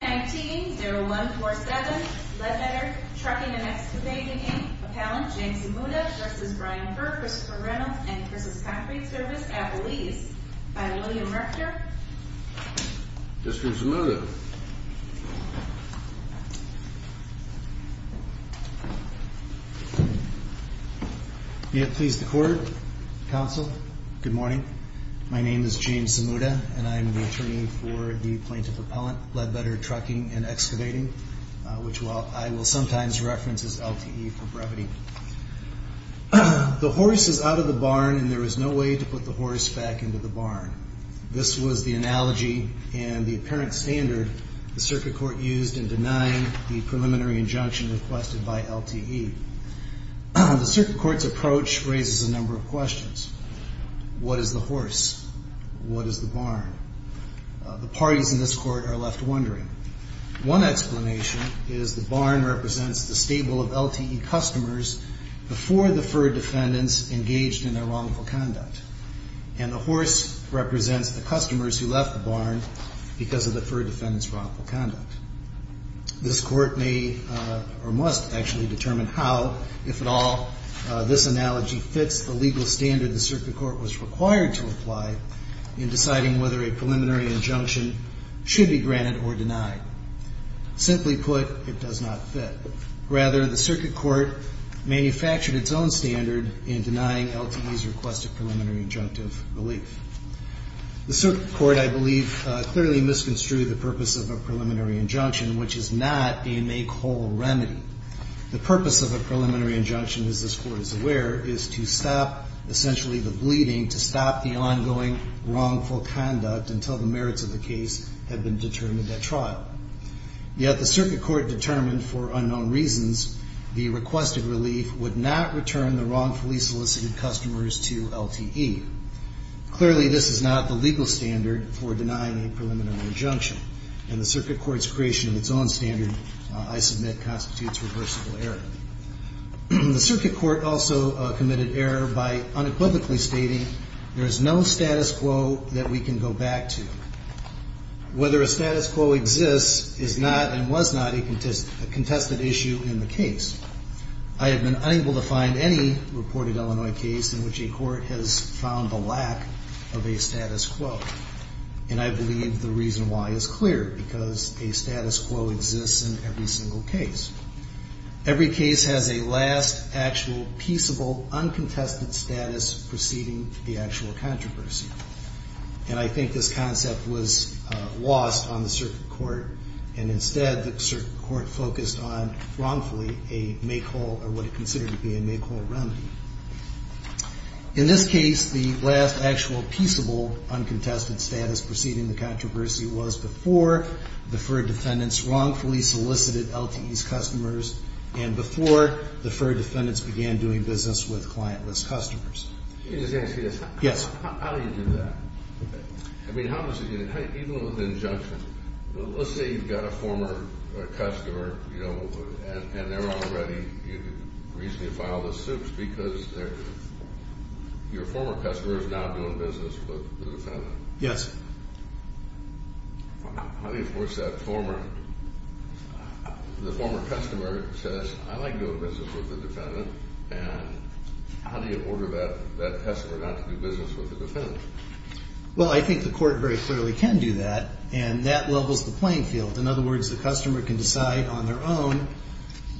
19-0147 Ledbetter Trucking & Excavating, Inc, Appellant James Zamuda v. Brian Furr, Christopher Reynolds, and Chris's Concrete Service, Appalachia. By William Rector. Mr. Zamuda. May it please the Court, Counsel, good morning. My name is James Zamuda and I'm the attorney for the Plaintiff Appellant, Ledbetter Trucking & Excavating, which I will sometimes reference as LTE for brevity. The horse is out of the barn and there is no way to put the horse back into the barn. This was the analogy and the apparent standard the Circuit Court used in denying the preliminary injunction requested by LTE. The Circuit Court's approach raises a number of questions. What is the horse? What is the barn? The parties in this Court are left wondering. One explanation is the barn represents the stable of LTE customers before the Furr defendants engaged in their wrongful conduct. And the horse represents the customers who left the barn because of the Furr defendants' wrongful conduct. This Court may or must actually determine how, if at all, this analogy fits the legal standard the Circuit Court was required to apply in deciding whether a preliminary injunction should be granted or denied. Simply put, it does not fit. Rather, the Circuit Court manufactured its own standard in denying LTE's request of preliminary injunctive relief. The Circuit Court, I believe, clearly misconstrued the purpose of a preliminary injunction, which is not a make-whole remedy. The purpose of a preliminary injunction, as this Court is aware, is to stop, essentially, the bleeding, to stop the ongoing wrongful conduct until the merits of the case have been determined at trial. Yet the Circuit Court determined, for unknown reasons, the requested relief would not return the wrongfully solicited customers to LTE. Clearly, this is not the legal standard for denying a preliminary injunction, and the Circuit Court's creation of its own standard, I submit, constitutes reversible error. The Circuit Court also committed error by unequivocally stating there is no status quo that we can go back to. Whether a status quo exists is not and was not a contested issue in the case. I have been unable to find any reported Illinois case in which a court has found the lack of a status quo. And I believe the reason why is clear, because a status quo exists in every single case. Every case has a last, actual, peaceable, uncontested status preceding the actual controversy. And I think this concept was lost on the Circuit Court, and instead the Circuit Court focused on, wrongfully, a make-all, or what it considered to be a make-all remedy. In this case, the last, actual, peaceable, uncontested status preceding the controversy was before deferred defendants wrongfully solicited LTE's customers, and before deferred defendants began doing business with clientless customers. Can I just ask you this? Yes. How do you do that? I mean, even with an injunction, let's say you've got a former customer, and they're already, recently filed a suit because your former customer is now doing business with the defendant. Yes. How do you force that former, the former customer says, I like doing business with the defendant, and how do you order that customer not to do business with the defendant? Well, I think the court very clearly can do that, and that levels the playing field. In other words, the customer can decide on their own,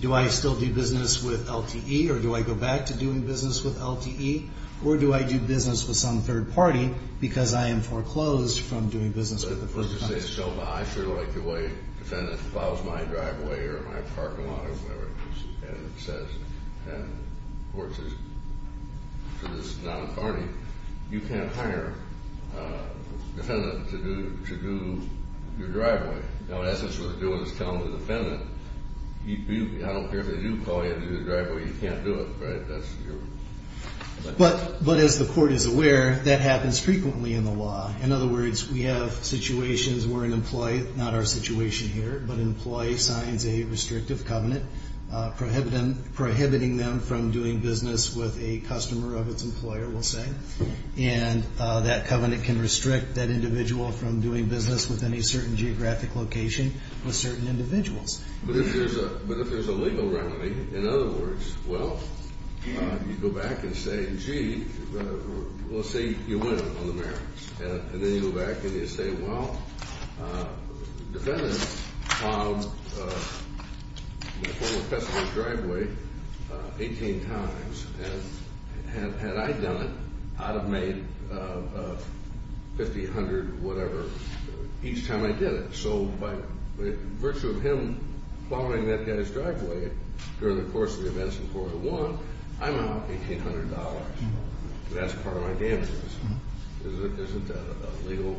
do I still do business with LTE, or do I go back to doing business with LTE, or do I do business with some third party because I am foreclosed from doing business with the first party? But let's just say, so I feel like the way a defendant follows my driveway or my parking lot, and it says, and the court says, so this is non-carny, you can't hire a defendant to do your driveway. Now, in essence, what they're doing is telling the defendant, I don't care if they do call you to do the driveway, you can't do it, right? But as the court is aware, that happens frequently in the law. In other words, we have situations where an employee, not our situation here, but an employee signs a restrictive covenant prohibiting them from doing business with a customer of its employer, we'll say, and that covenant can restrict that individual from doing business with any certain geographic location with certain individuals. But if there's a legal remedy, in other words, well, you go back and say, gee, let's say you win on the merits, and then you go back and you say, well, the defendant followed my former customer's driveway 18 times, and had I done it, I'd have made $1,500 or whatever each time I did it. So by virtue of him following that guy's driveway during the course of the events in court one, I'm out $1,800. That's part of my damages. Isn't that a legal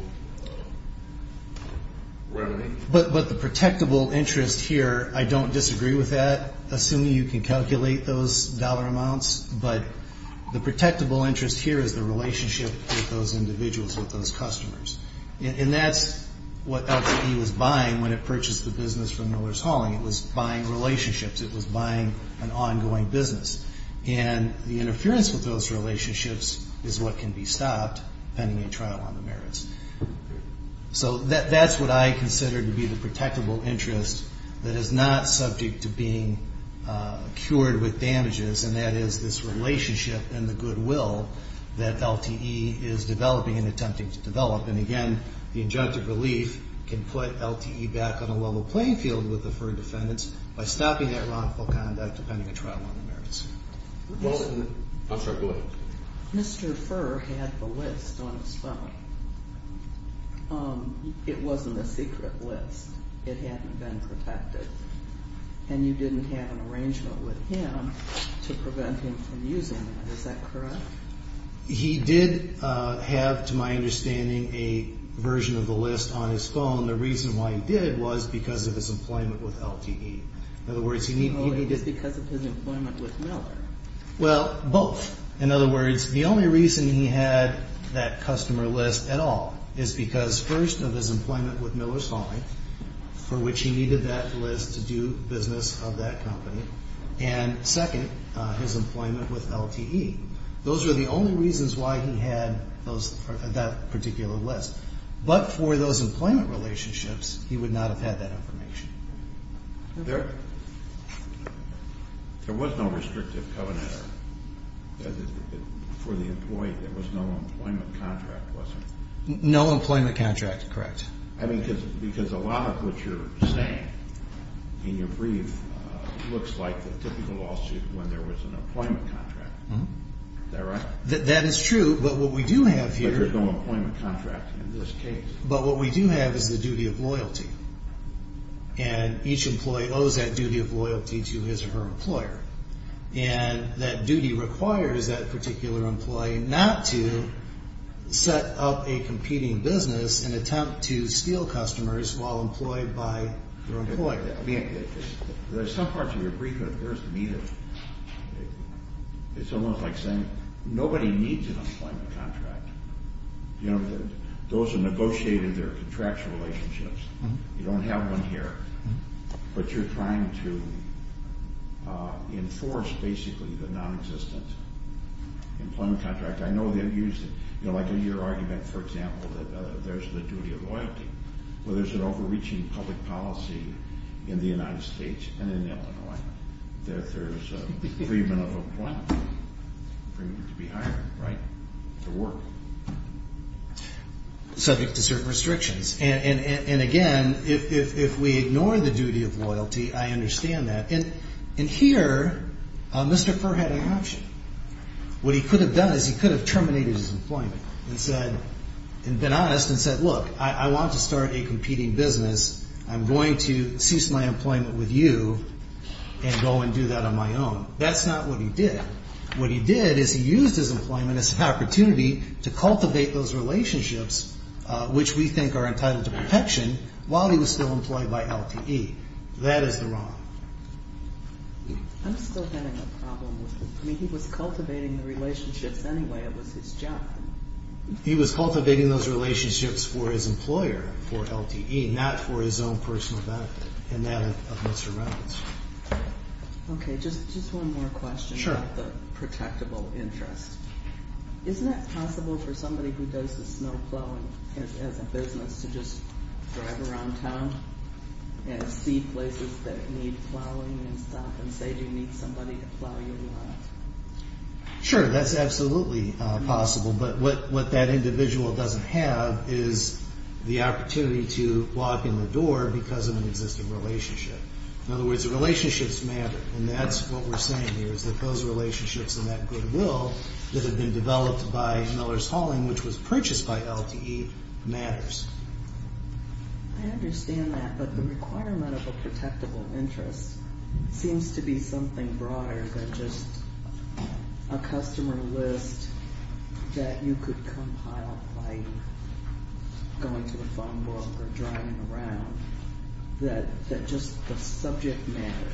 remedy? But the protectable interest here, I don't disagree with that, assuming you can calculate those dollar amounts, but the protectable interest here is the relationship with those individuals, with those customers. And that's what LTE was buying when it purchased the business from Miller's Hauling. It was buying relationships. It was buying an ongoing business. And the interference with those relationships is what can be stopped pending a trial on the merits. So that's what I consider to be the protectable interest that is not subject to being cured with damages, and that is this relationship and the goodwill that LTE is developing and attempting to develop. And again, the injunctive relief can put LTE back on a level playing field with the deferred defendants by stopping that wrongful conduct pending a trial on the merits. I'm sorry, go ahead. Mr. Furr had the list on his phone. It wasn't a secret list. It hadn't been protected. And you didn't have an arrangement with him to prevent him from using it. Is that correct? He did have, to my understanding, a version of the list on his phone. And the reason why he did was because of his employment with LTE. In other words, he needed... Oh, it was because of his employment with Miller. Well, both. In other words, the only reason he had that customer list at all is because, first, of his employment with Miller's Hauling, for which he needed that list to do business of that company, and, second, his employment with LTE. Those are the only reasons why he had that particular list. But for those employment relationships, he would not have had that information. There was no restrictive covenant for the employee. There was no employment contract, was there? No employment contract, correct. I mean, because a lot of what you're saying in your brief looks like the typical lawsuit when there was an employment contract. Is that right? That is true, but what we do have here... But what we do have is the duty of loyalty. And each employee owes that duty of loyalty to his or her employer. And that duty requires that particular employee not to set up a competing business and attempt to steal customers while employed by their employer. I mean, there's some parts of your brief that appears to me to... It's almost like saying nobody needs an employment contract. Those are negotiated. They're contractual relationships. You don't have one here. But you're trying to enforce, basically, the non-existent employment contract. I know that you used it. Like in your argument, for example, that there's the duty of loyalty. Well, there's an overreaching public policy in the United States and in Illinois that there's a decreement of employment. Decreement to be hired, right? To work. Subject to certain restrictions. And, again, if we ignore the duty of loyalty, I understand that. And here, Mr. Furr had an option. What he could have done is he could have terminated his employment and been honest and said, Look, I want to start a competing business. I'm going to cease my employment with you and go and do that on my own. That's not what he did. What he did is he used his employment as an opportunity to cultivate those relationships, which we think are entitled to protection, while he was still employed by LTE. That is the wrong. I'm still having a problem with it. I mean, he was cultivating the relationships anyway. It was his job. He was cultivating those relationships for his employer, for LTE, not for his own personal benefit and that of Mr. Reynolds. Okay, just one more question about the protectable interest. Isn't that possible for somebody who does the snow plowing as a business to just drive around town and see places that need plowing and stuff and say, Do you need somebody to plow your lawn? Sure, that's absolutely possible, but what that individual doesn't have is the opportunity to lock in the door because of an existing relationship. In other words, the relationships matter, and that's what we're saying here is that those relationships and that goodwill that have been developed by Miller's Hauling, which was purchased by LTE, matters. I understand that, but the requirement of a protectable interest seems to be something broader than just a customer list that you could compile by going to a phone book or driving around, that just the subject matter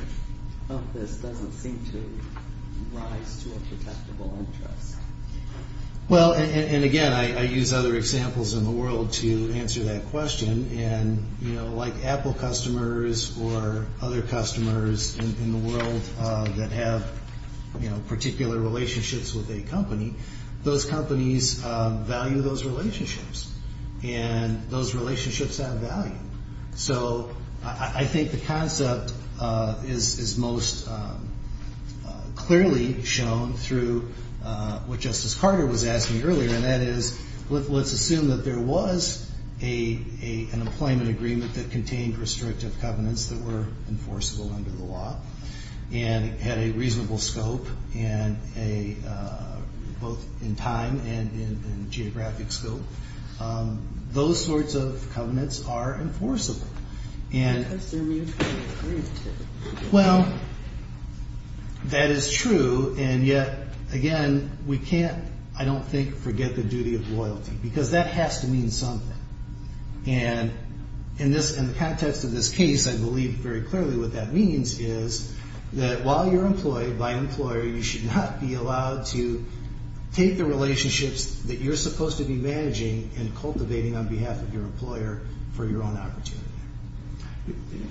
of this doesn't seem to rise to a protectable interest. Well, and again, I use other examples in the world to answer that question, and like Apple customers or other customers in the world that have particular relationships with a company, those companies value those relationships, and those relationships have value. So I think the concept is most clearly shown through what Justice Carter was asking earlier, and that is let's assume that there was an employment agreement that contained restrictive covenants that were enforceable under the law and had a reasonable scope, both in time and in geographic scope. Those sorts of covenants are enforceable. I assume you can agree to them. Well, that is true, and yet, again, we can't, I don't think, forget the duty of loyalty, because that has to mean something, and in the context of this case, I believe very clearly what that means is that while you're employed by an employer, you should not be allowed to take the relationships that you're supposed to be managing and cultivating on behalf of your employer for your own opportunity.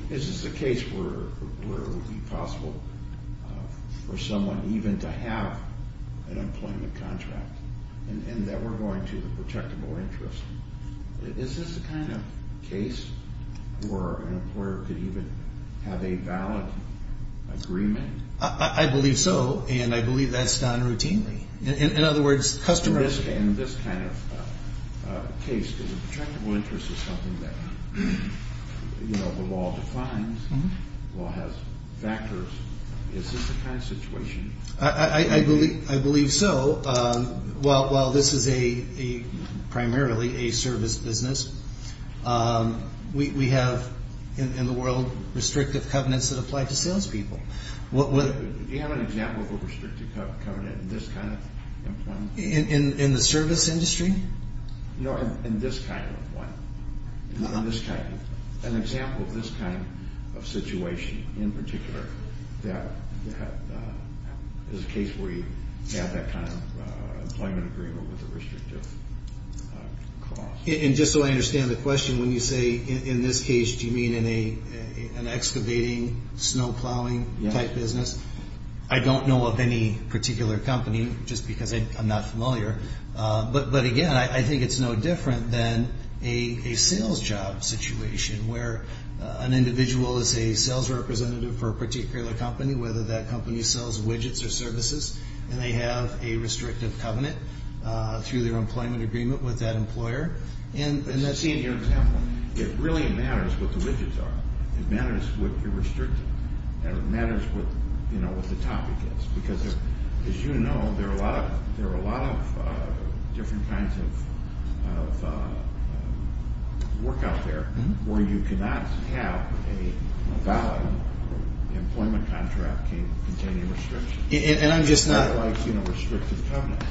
This is a case where it would be possible for someone even to have an employment contract, and that we're going to the protectable interest. Is this the kind of case where an employer could even have a valid agreement? I believe so, and I believe that's done routinely. In other words, customers... You know, the law defines, the law has factors. Is this the kind of situation? I believe so. While this is primarily a service business, we have in the world restrictive covenants that apply to salespeople. Do you have an example of a restrictive covenant in this kind of employment? In the service industry? No, in this kind of one. An example of this kind of situation in particular is a case where you have that kind of employment agreement with a restrictive clause. And just so I understand the question, when you say in this case, do you mean in an excavating, snow plowing type business? I don't know of any particular company, just because I'm not familiar, but again, I think it's no different than a sales job situation where an individual is a sales representative for a particular company, whether that company sells widgets or services, and they have a restrictive covenant through their employment agreement with that employer. Just seeing your example, it really matters what the widgets are. It matters what you're restricting. It matters what the topic is. Because as you know, there are a lot of different kinds of work out there where you cannot have a valid employment contract containing restrictions. And I'm just not… Unlike restrictive covenants.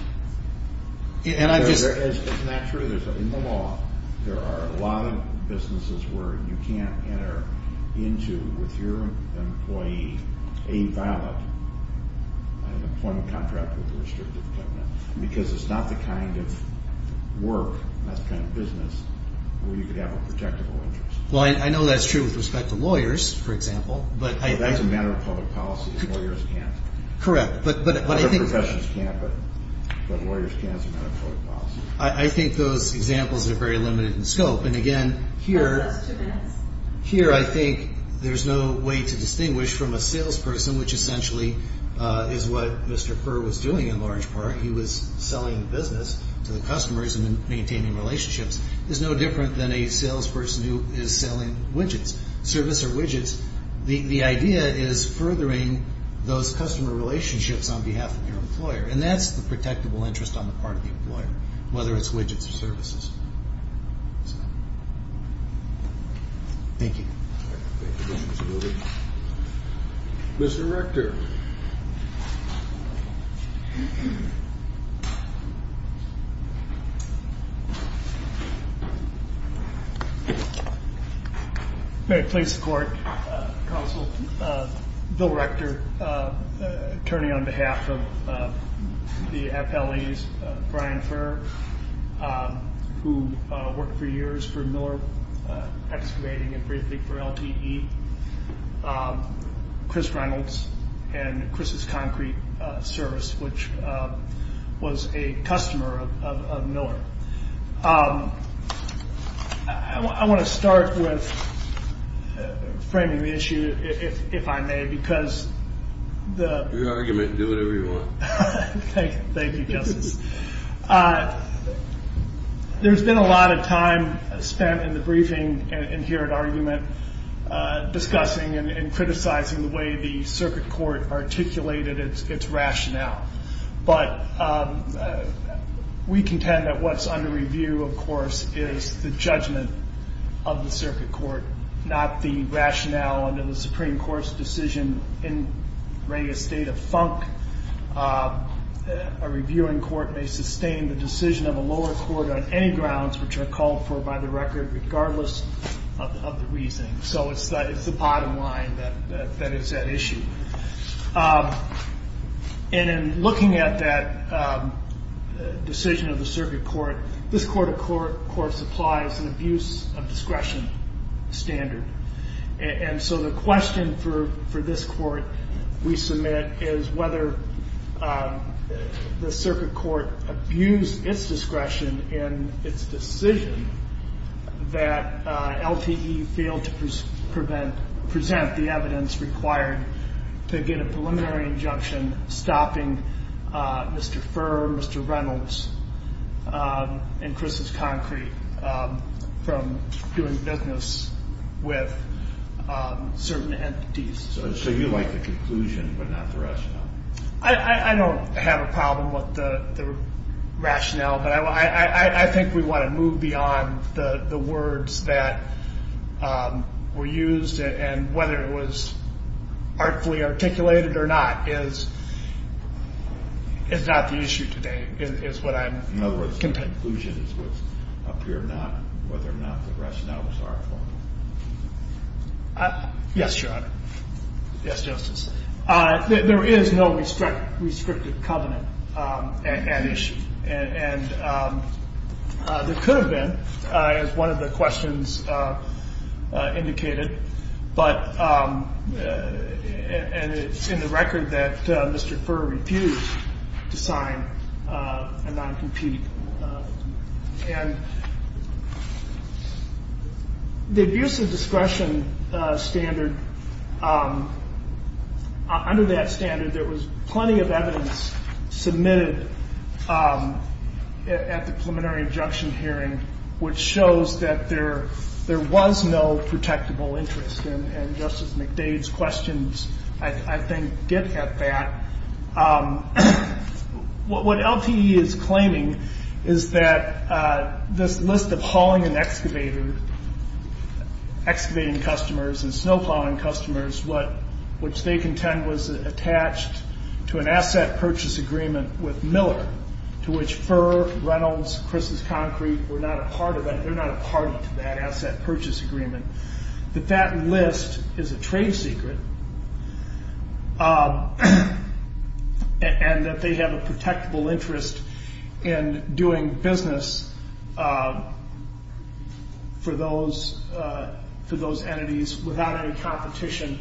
And I'm just… It's not true. In the law, there are a lot of businesses where you can't enter into with your employee a valid employment contract with a restrictive covenant because it's not the kind of work, that kind of business, where you could have a protectable interest. Well, I know that's true with respect to lawyers, for example. But that's a matter of public policy. Lawyers can't. Correct. But I think… Other professions can't, but lawyers can as a matter of public policy. I think those examples are very limited in scope. And again, here… Last two minutes. Here, I think there's no way to distinguish from a salesperson, which essentially is what Mr. Kerr was doing in large part. He was selling business to the customers and maintaining relationships. It's no different than a salesperson who is selling widgets. Service or widgets. The idea is furthering those customer relationships on behalf of your employer. And that's the protectable interest on the part of the employer, whether it's widgets or services. Thank you. Mr. Rector. May it please the Court. Counsel, Bill Rector, attorney on behalf of the FLEs, Brian Furr, who worked for years for Miller Excavating and Briefing for LTE, Chris Reynolds, and Chris's Concrete Service, which was a customer of Miller. I want to start with framing the issue, if I may, because the… Your argument. Thank you, Justice. There's been a lot of time spent in the briefing and here at argument discussing and criticizing the way the circuit court articulated its rationale. But we contend that what's under review, of course, is the judgment of the circuit court, not the rationale under the Supreme Court's decision in re a state of funk. A reviewing court may sustain the decision of a lower court on any grounds which are called for by the record, regardless of the reasoning. So it's the bottom line that is at issue. And in looking at that decision of the circuit court, this court of course applies an abuse of discretion standard. And so the question for this court we submit is whether the circuit court abused its discretion in its decision that LTE failed to present the evidence required to get a preliminary injunction stopping Mr. Furr, Mr. Reynolds, and Chris's concrete from doing business with certain entities. So you like the conclusion but not the rationale. I don't have a problem with the rationale, but I think we want to move beyond the words that were used and whether it was artfully articulated or not is not the issue today In other words, the conclusion is what's up here, not whether or not the rationale was artful. Yes, Your Honor. Yes, Justice. There is no restricted covenant at issue. And there could have been, as one of the questions indicated, but it's in the record that Mr. Furr refused to sign a non-compete. And the abuse of discretion standard, under that standard there was plenty of evidence submitted at the preliminary injunction hearing which shows that there was no protectable interest. And Justice McDade's questions, I think, did have that. What LTE is claiming is that this list of hauling and excavating customers and snow plowing customers, which they contend was attached to an asset purchase agreement with Miller, to which Furr, Reynolds, Chris's Concrete were not a part of it, they're not a party to that asset purchase agreement, that that list is a trade secret and that they have a protectable interest in doing business for those entities without any competition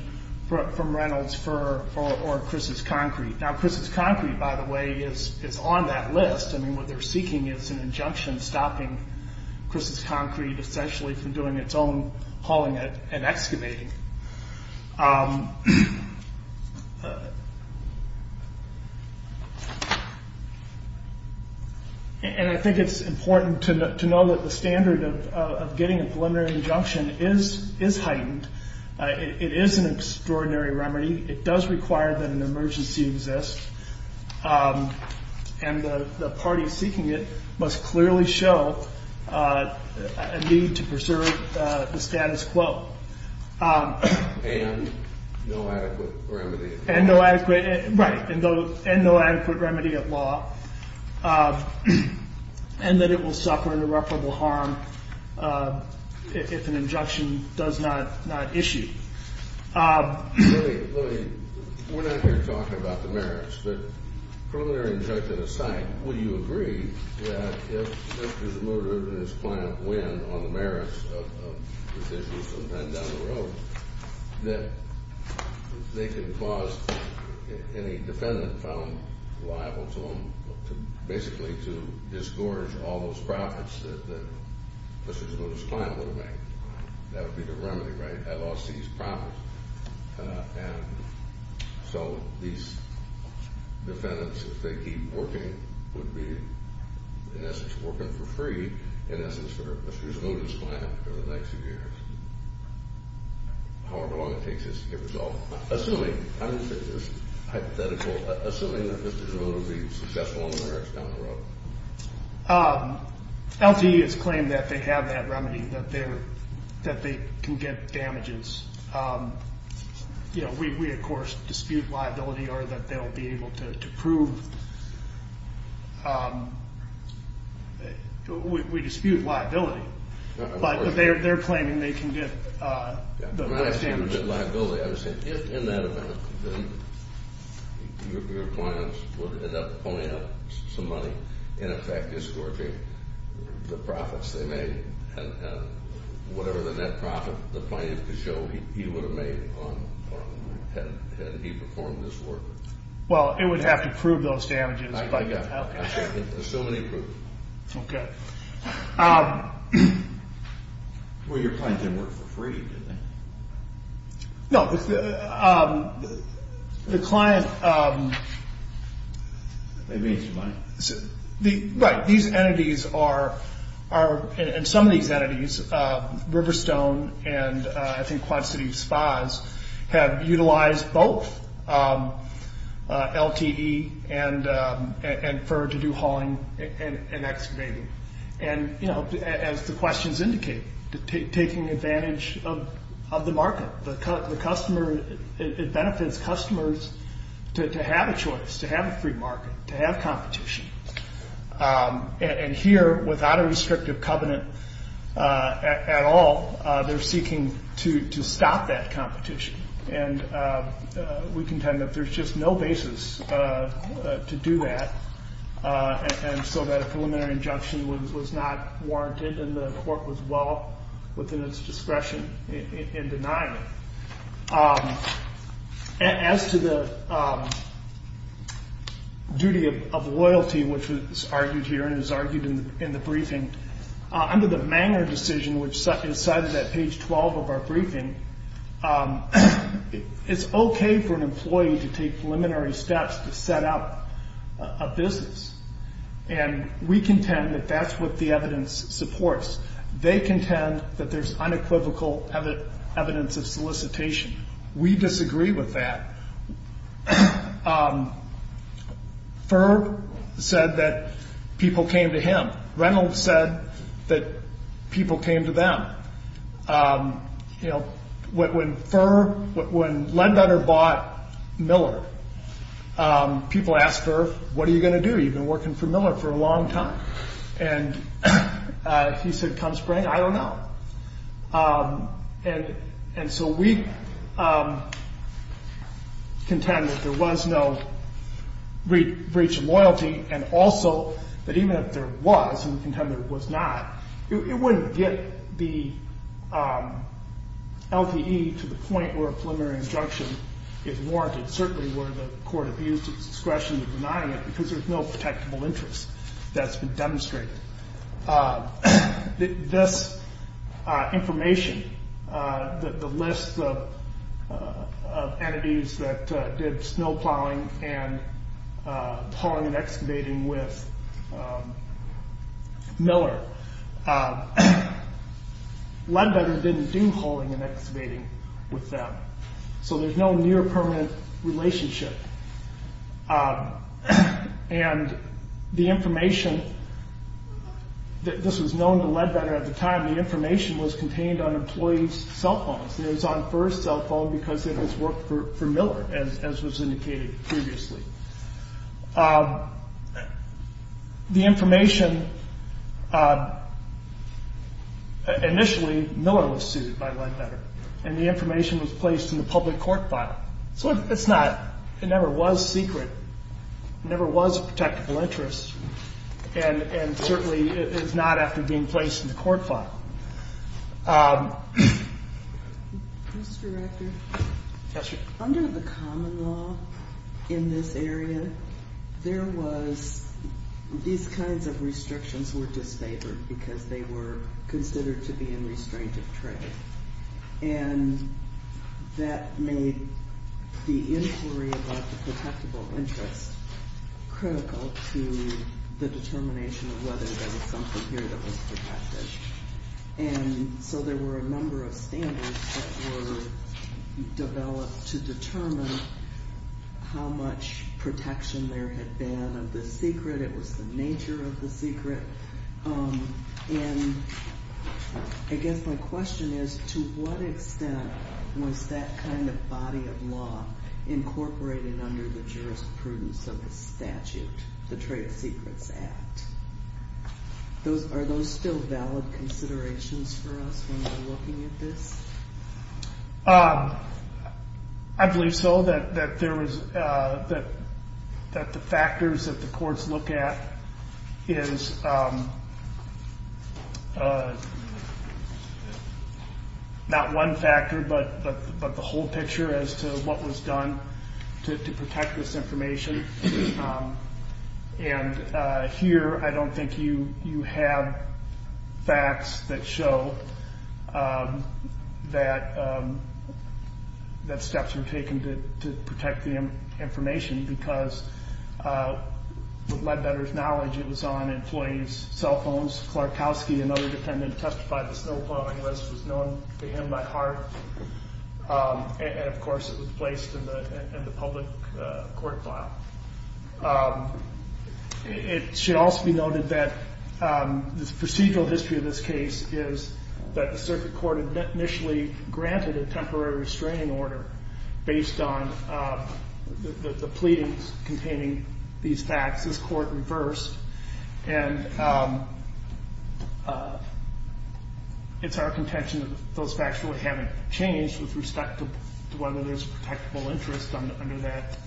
from Reynolds, Furr, or Chris's Concrete. Now, Chris's Concrete, by the way, is on that list. I mean, what they're seeking is an injunction stopping Chris's Concrete essentially from doing its own hauling and excavating. And I think it's important to know that the standard of getting a preliminary injunction is heightened. It is an extraordinary remedy. It does require that an emergency exists, and the party seeking it must clearly show a need to preserve the status quo. And no adequate remedy at law. Right, and no adequate remedy at law. And that it will suffer irreparable harm if an injunction does not issue. Let me, let me. We're not here talking about the merits, but preliminary injunction aside, would you agree that if Mr. Zmuda and his client win on the merits of decisions from then down the road, that they can cause any defendant found liable to them to basically to disgorge all those profits that Mr. Zmuda's client would have made? That would be the remedy, right? I lost these profits. And so these defendants, if they keep working, would be in essence working for free in essence for Mr. Zmuda's client for the next few years, however long it takes to get resolved. Assuming, I'm just saying this hypothetical, assuming that Mr. Zmuda would be successful on the merits down the road. LGE has claimed that they have that remedy, that they can get damages. You know, we of course dispute liability or that they'll be able to prove. We dispute liability, but they're claiming they can get the damages. If in that event, then your clients would end up pulling out some money and in effect disgorging the profits they made and whatever the net profit the client could show he would have made had he performed this work. Well, it would have to prove those damages. I got it. Assuming they prove it. Okay. Well, your client didn't work for free, did they? No, the client... They made some money. Right. These entities are, and some of these entities, Riverstone and I think Quad City Spas have utilized both LTE and for to do hauling and excavating. And, you know, as the questions indicate, taking advantage of the market. The customer, it benefits customers to have a choice, to have a free market, to have competition. And here, without a restrictive covenant at all, they're seeking to stop that competition. And we contend that there's just no basis to do that. And so that a preliminary injunction was not warranted and the court was well within its discretion in denying it. As to the duty of loyalty, which is argued here and is argued in the briefing, under the Manger decision, which is cited at page 12 of our briefing, it's okay for an employee to take preliminary steps to set up a business. And we contend that that's what the evidence supports. They contend that there's unequivocal evidence of solicitation. We disagree with that. Ferb said that people came to him. Reynolds said that people came to them. You know, when Ledbetter bought Miller, people asked Ferb, what are you going to do? You've been working for Miller for a long time. And he said, come spring? I don't know. And so we contend that there was no breach of loyalty and also that even if there was, and we contend there was not, it wouldn't get the LTE to the point where a preliminary injunction is warranted, certainly where the court abused its discretion in denying it, because there's no protectable interest that's been demonstrated. This information, the list of entities that did snow plowing and hauling and excavating with Miller, Ledbetter didn't do hauling and excavating with them. So there's no near permanent relationship. And the information, this was known to Ledbetter at the time, the information was contained on employees' cell phones. It was on Ferb's cell phone because it was worked for Miller, as was indicated previously. The information, initially Miller was sued by Ledbetter. And the information was placed in the public court file. So it's not, it never was secret. It never was a protectable interest. And certainly it is not after being placed in the court file. Mr. Rector? Yes, ma'am. Under the common law in this area, there was, these kinds of restrictions were disfavored because they were considered to be in restraint of trade. And that made the inquiry about the protectable interest critical to the determination of whether there was something here that was protected. And so there were a number of standards that were developed to determine how much protection there had been of the secret. It was the nature of the secret. And I guess my question is, to what extent was that kind of body of law incorporated under the jurisprudence of the statute, the Trade Secrets Act? Are those still valid considerations for us when we're looking at this? I believe so. That there was, that the factors that the courts look at is not one factor, but the whole picture as to what was done to protect this information. And here, I don't think you have facts that show that steps were taken to protect the information because, to my better knowledge, it was on employees' cell phones. Klarkowski, another defendant, testified that snow plowing was known to him by heart. And, of course, it was placed in the public court file. It should also be noted that the procedural history of this case is that the circuit court initially granted a temporary restraining order based on the pleadings containing these facts. This court reversed, and it's our contention that those facts really haven't changed with respect to whether there's a protectable interest under that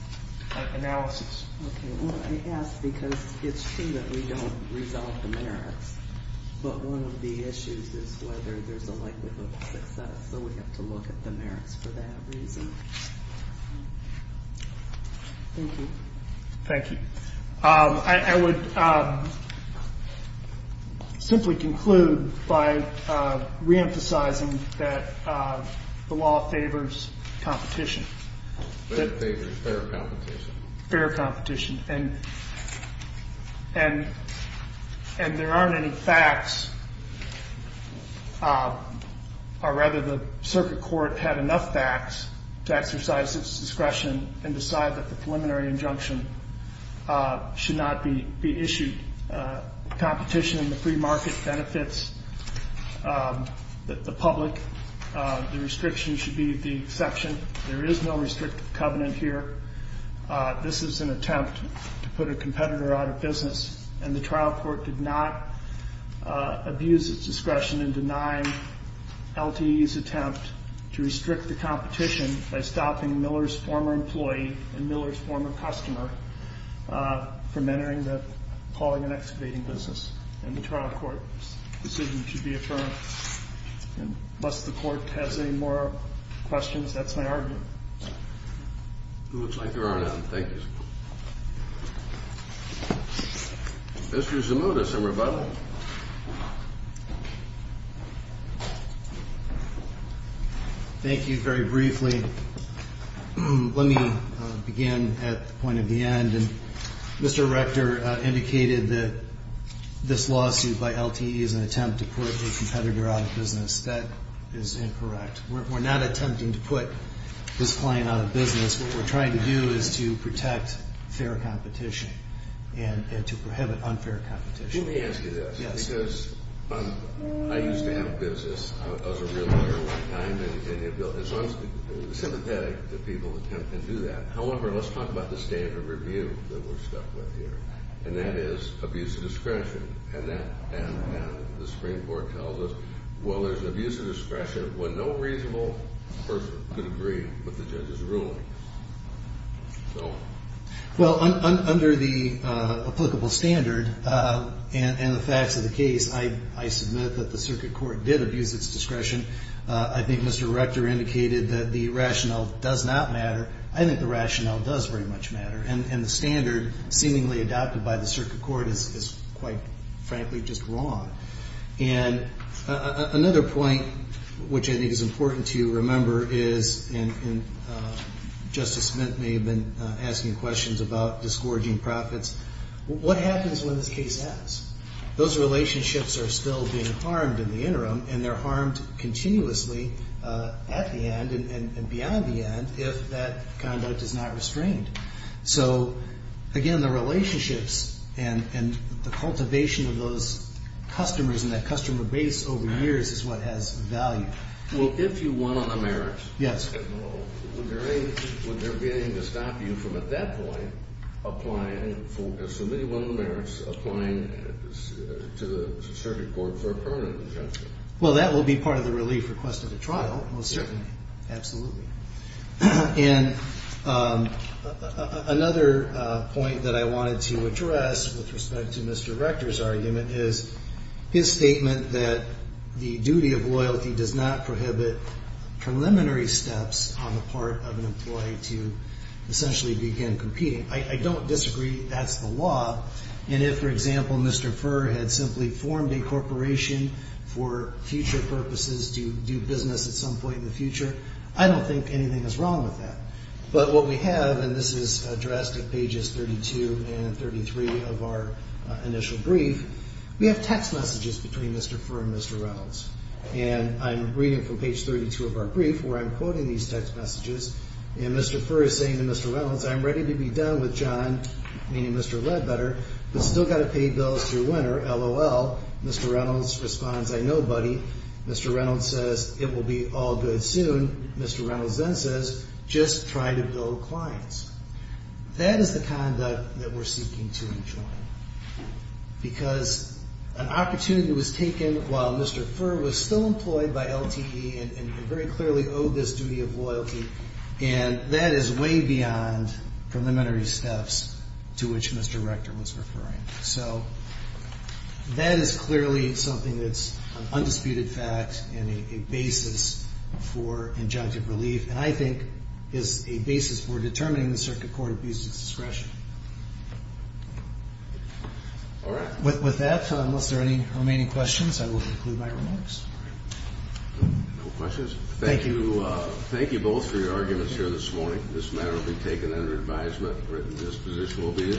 analysis. Okay, well, I ask because it's true that we don't resolve the merits, but one of the issues is whether there's a likelihood of success, so we have to look at the merits for that reason. Thank you. Thank you. I would simply conclude by reemphasizing that the law favors competition. It favors fair competition. Fair competition. And there aren't any facts, or rather the circuit court had enough facts to exercise its discretion and decide that the preliminary injunction should not be issued. Competition in the free market benefits the public. The restriction should be the exception. There is no restrictive covenant here. This is an attempt to put a competitor out of business, and the trial court did not abuse its discretion in denying LTE's attempt to restrict the competition by stopping Miller's former employee and Miller's former customer from entering the hauling and excavating business, and the trial court's decision to be affirmed. Unless the court has any more questions, that's my argument. It looks like there are none. Thank you. Mr. Zimutis in rebuttal. Thank you very briefly. Let me begin at the point at the end. Mr. Rector indicated that this lawsuit by LTE is an attempt to put a competitor out of business. That is incorrect. We're not attempting to put this client out of business. What we're trying to do is to protect fair competition and to prohibit unfair competition. Let me ask you this, because I used to have a business. I was a real lawyer at one time, and so I'm sympathetic that people attempt to do that. However, let's talk about the standard review that we're stuck with here, and that is abuse of discretion. The Supreme Court tells us, well, there's abuse of discretion when no reasonable person could agree with the judge's ruling. Well, under the applicable standard and the facts of the case, I submit that the circuit court did abuse its discretion. I think Mr. Rector indicated that the rationale does not matter. I think the rationale does very much matter, and the standard seemingly adopted by the circuit court is quite frankly just wrong. And another point which I think is important to remember is, and Justice Smith may have been asking questions about discouraging profits, what happens when this case ends? Those relationships are still being harmed in the interim, and they're harmed continuously at the end and beyond the end if that conduct is not restrained. So, again, the relationships and the cultivation of those customers and that customer base over years is what has value. Well, if you won on the merits... Yes. ...would there be anything to stop you from at that point applying for, submitting one of the merits, applying to the circuit court for a permanent injunction? Well, that will be part of the relief request of the trial, most certainly, absolutely. And another point that I wanted to address with respect to Mr. Rector's argument is his statement that the duty of loyalty does not prohibit preliminary steps on the part of an employee to essentially begin competing. I don't disagree that's the law, and if, for example, Mr. Furr had simply formed a corporation for future purposes to do business at some point in the future, I don't think anything is wrong with that. But what we have, and this is addressed at pages 32 and 33 of our initial brief, we have text messages between Mr. Furr and Mr. Reynolds, and I'm reading from page 32 of our brief where I'm quoting these text messages, and Mr. Furr is saying to Mr. Reynolds, I'm ready to be done with John, meaning Mr. Ledbetter, but still got to pay bills through winter, LOL. Mr. Reynolds responds, I know, buddy. Mr. Reynolds says, it will be all good soon. Mr. Reynolds then says, just try to build clients. That is the conduct that we're seeking to enjoy because an opportunity was taken while Mr. Furr was still employed by LTE and very clearly owed this duty of loyalty, and that is way beyond preliminary steps to which Mr. Rector was referring. So that is clearly something that's an undisputed fact and a basis for injunctive relief, and I think is a basis for determining the Circuit Court of Abuse's discretion. With that, unless there are any remaining questions, I will conclude my remarks. No questions? Thank you. Thank you both for your arguments here this morning. This matter will be taken under advisement. Written disposition will be issued.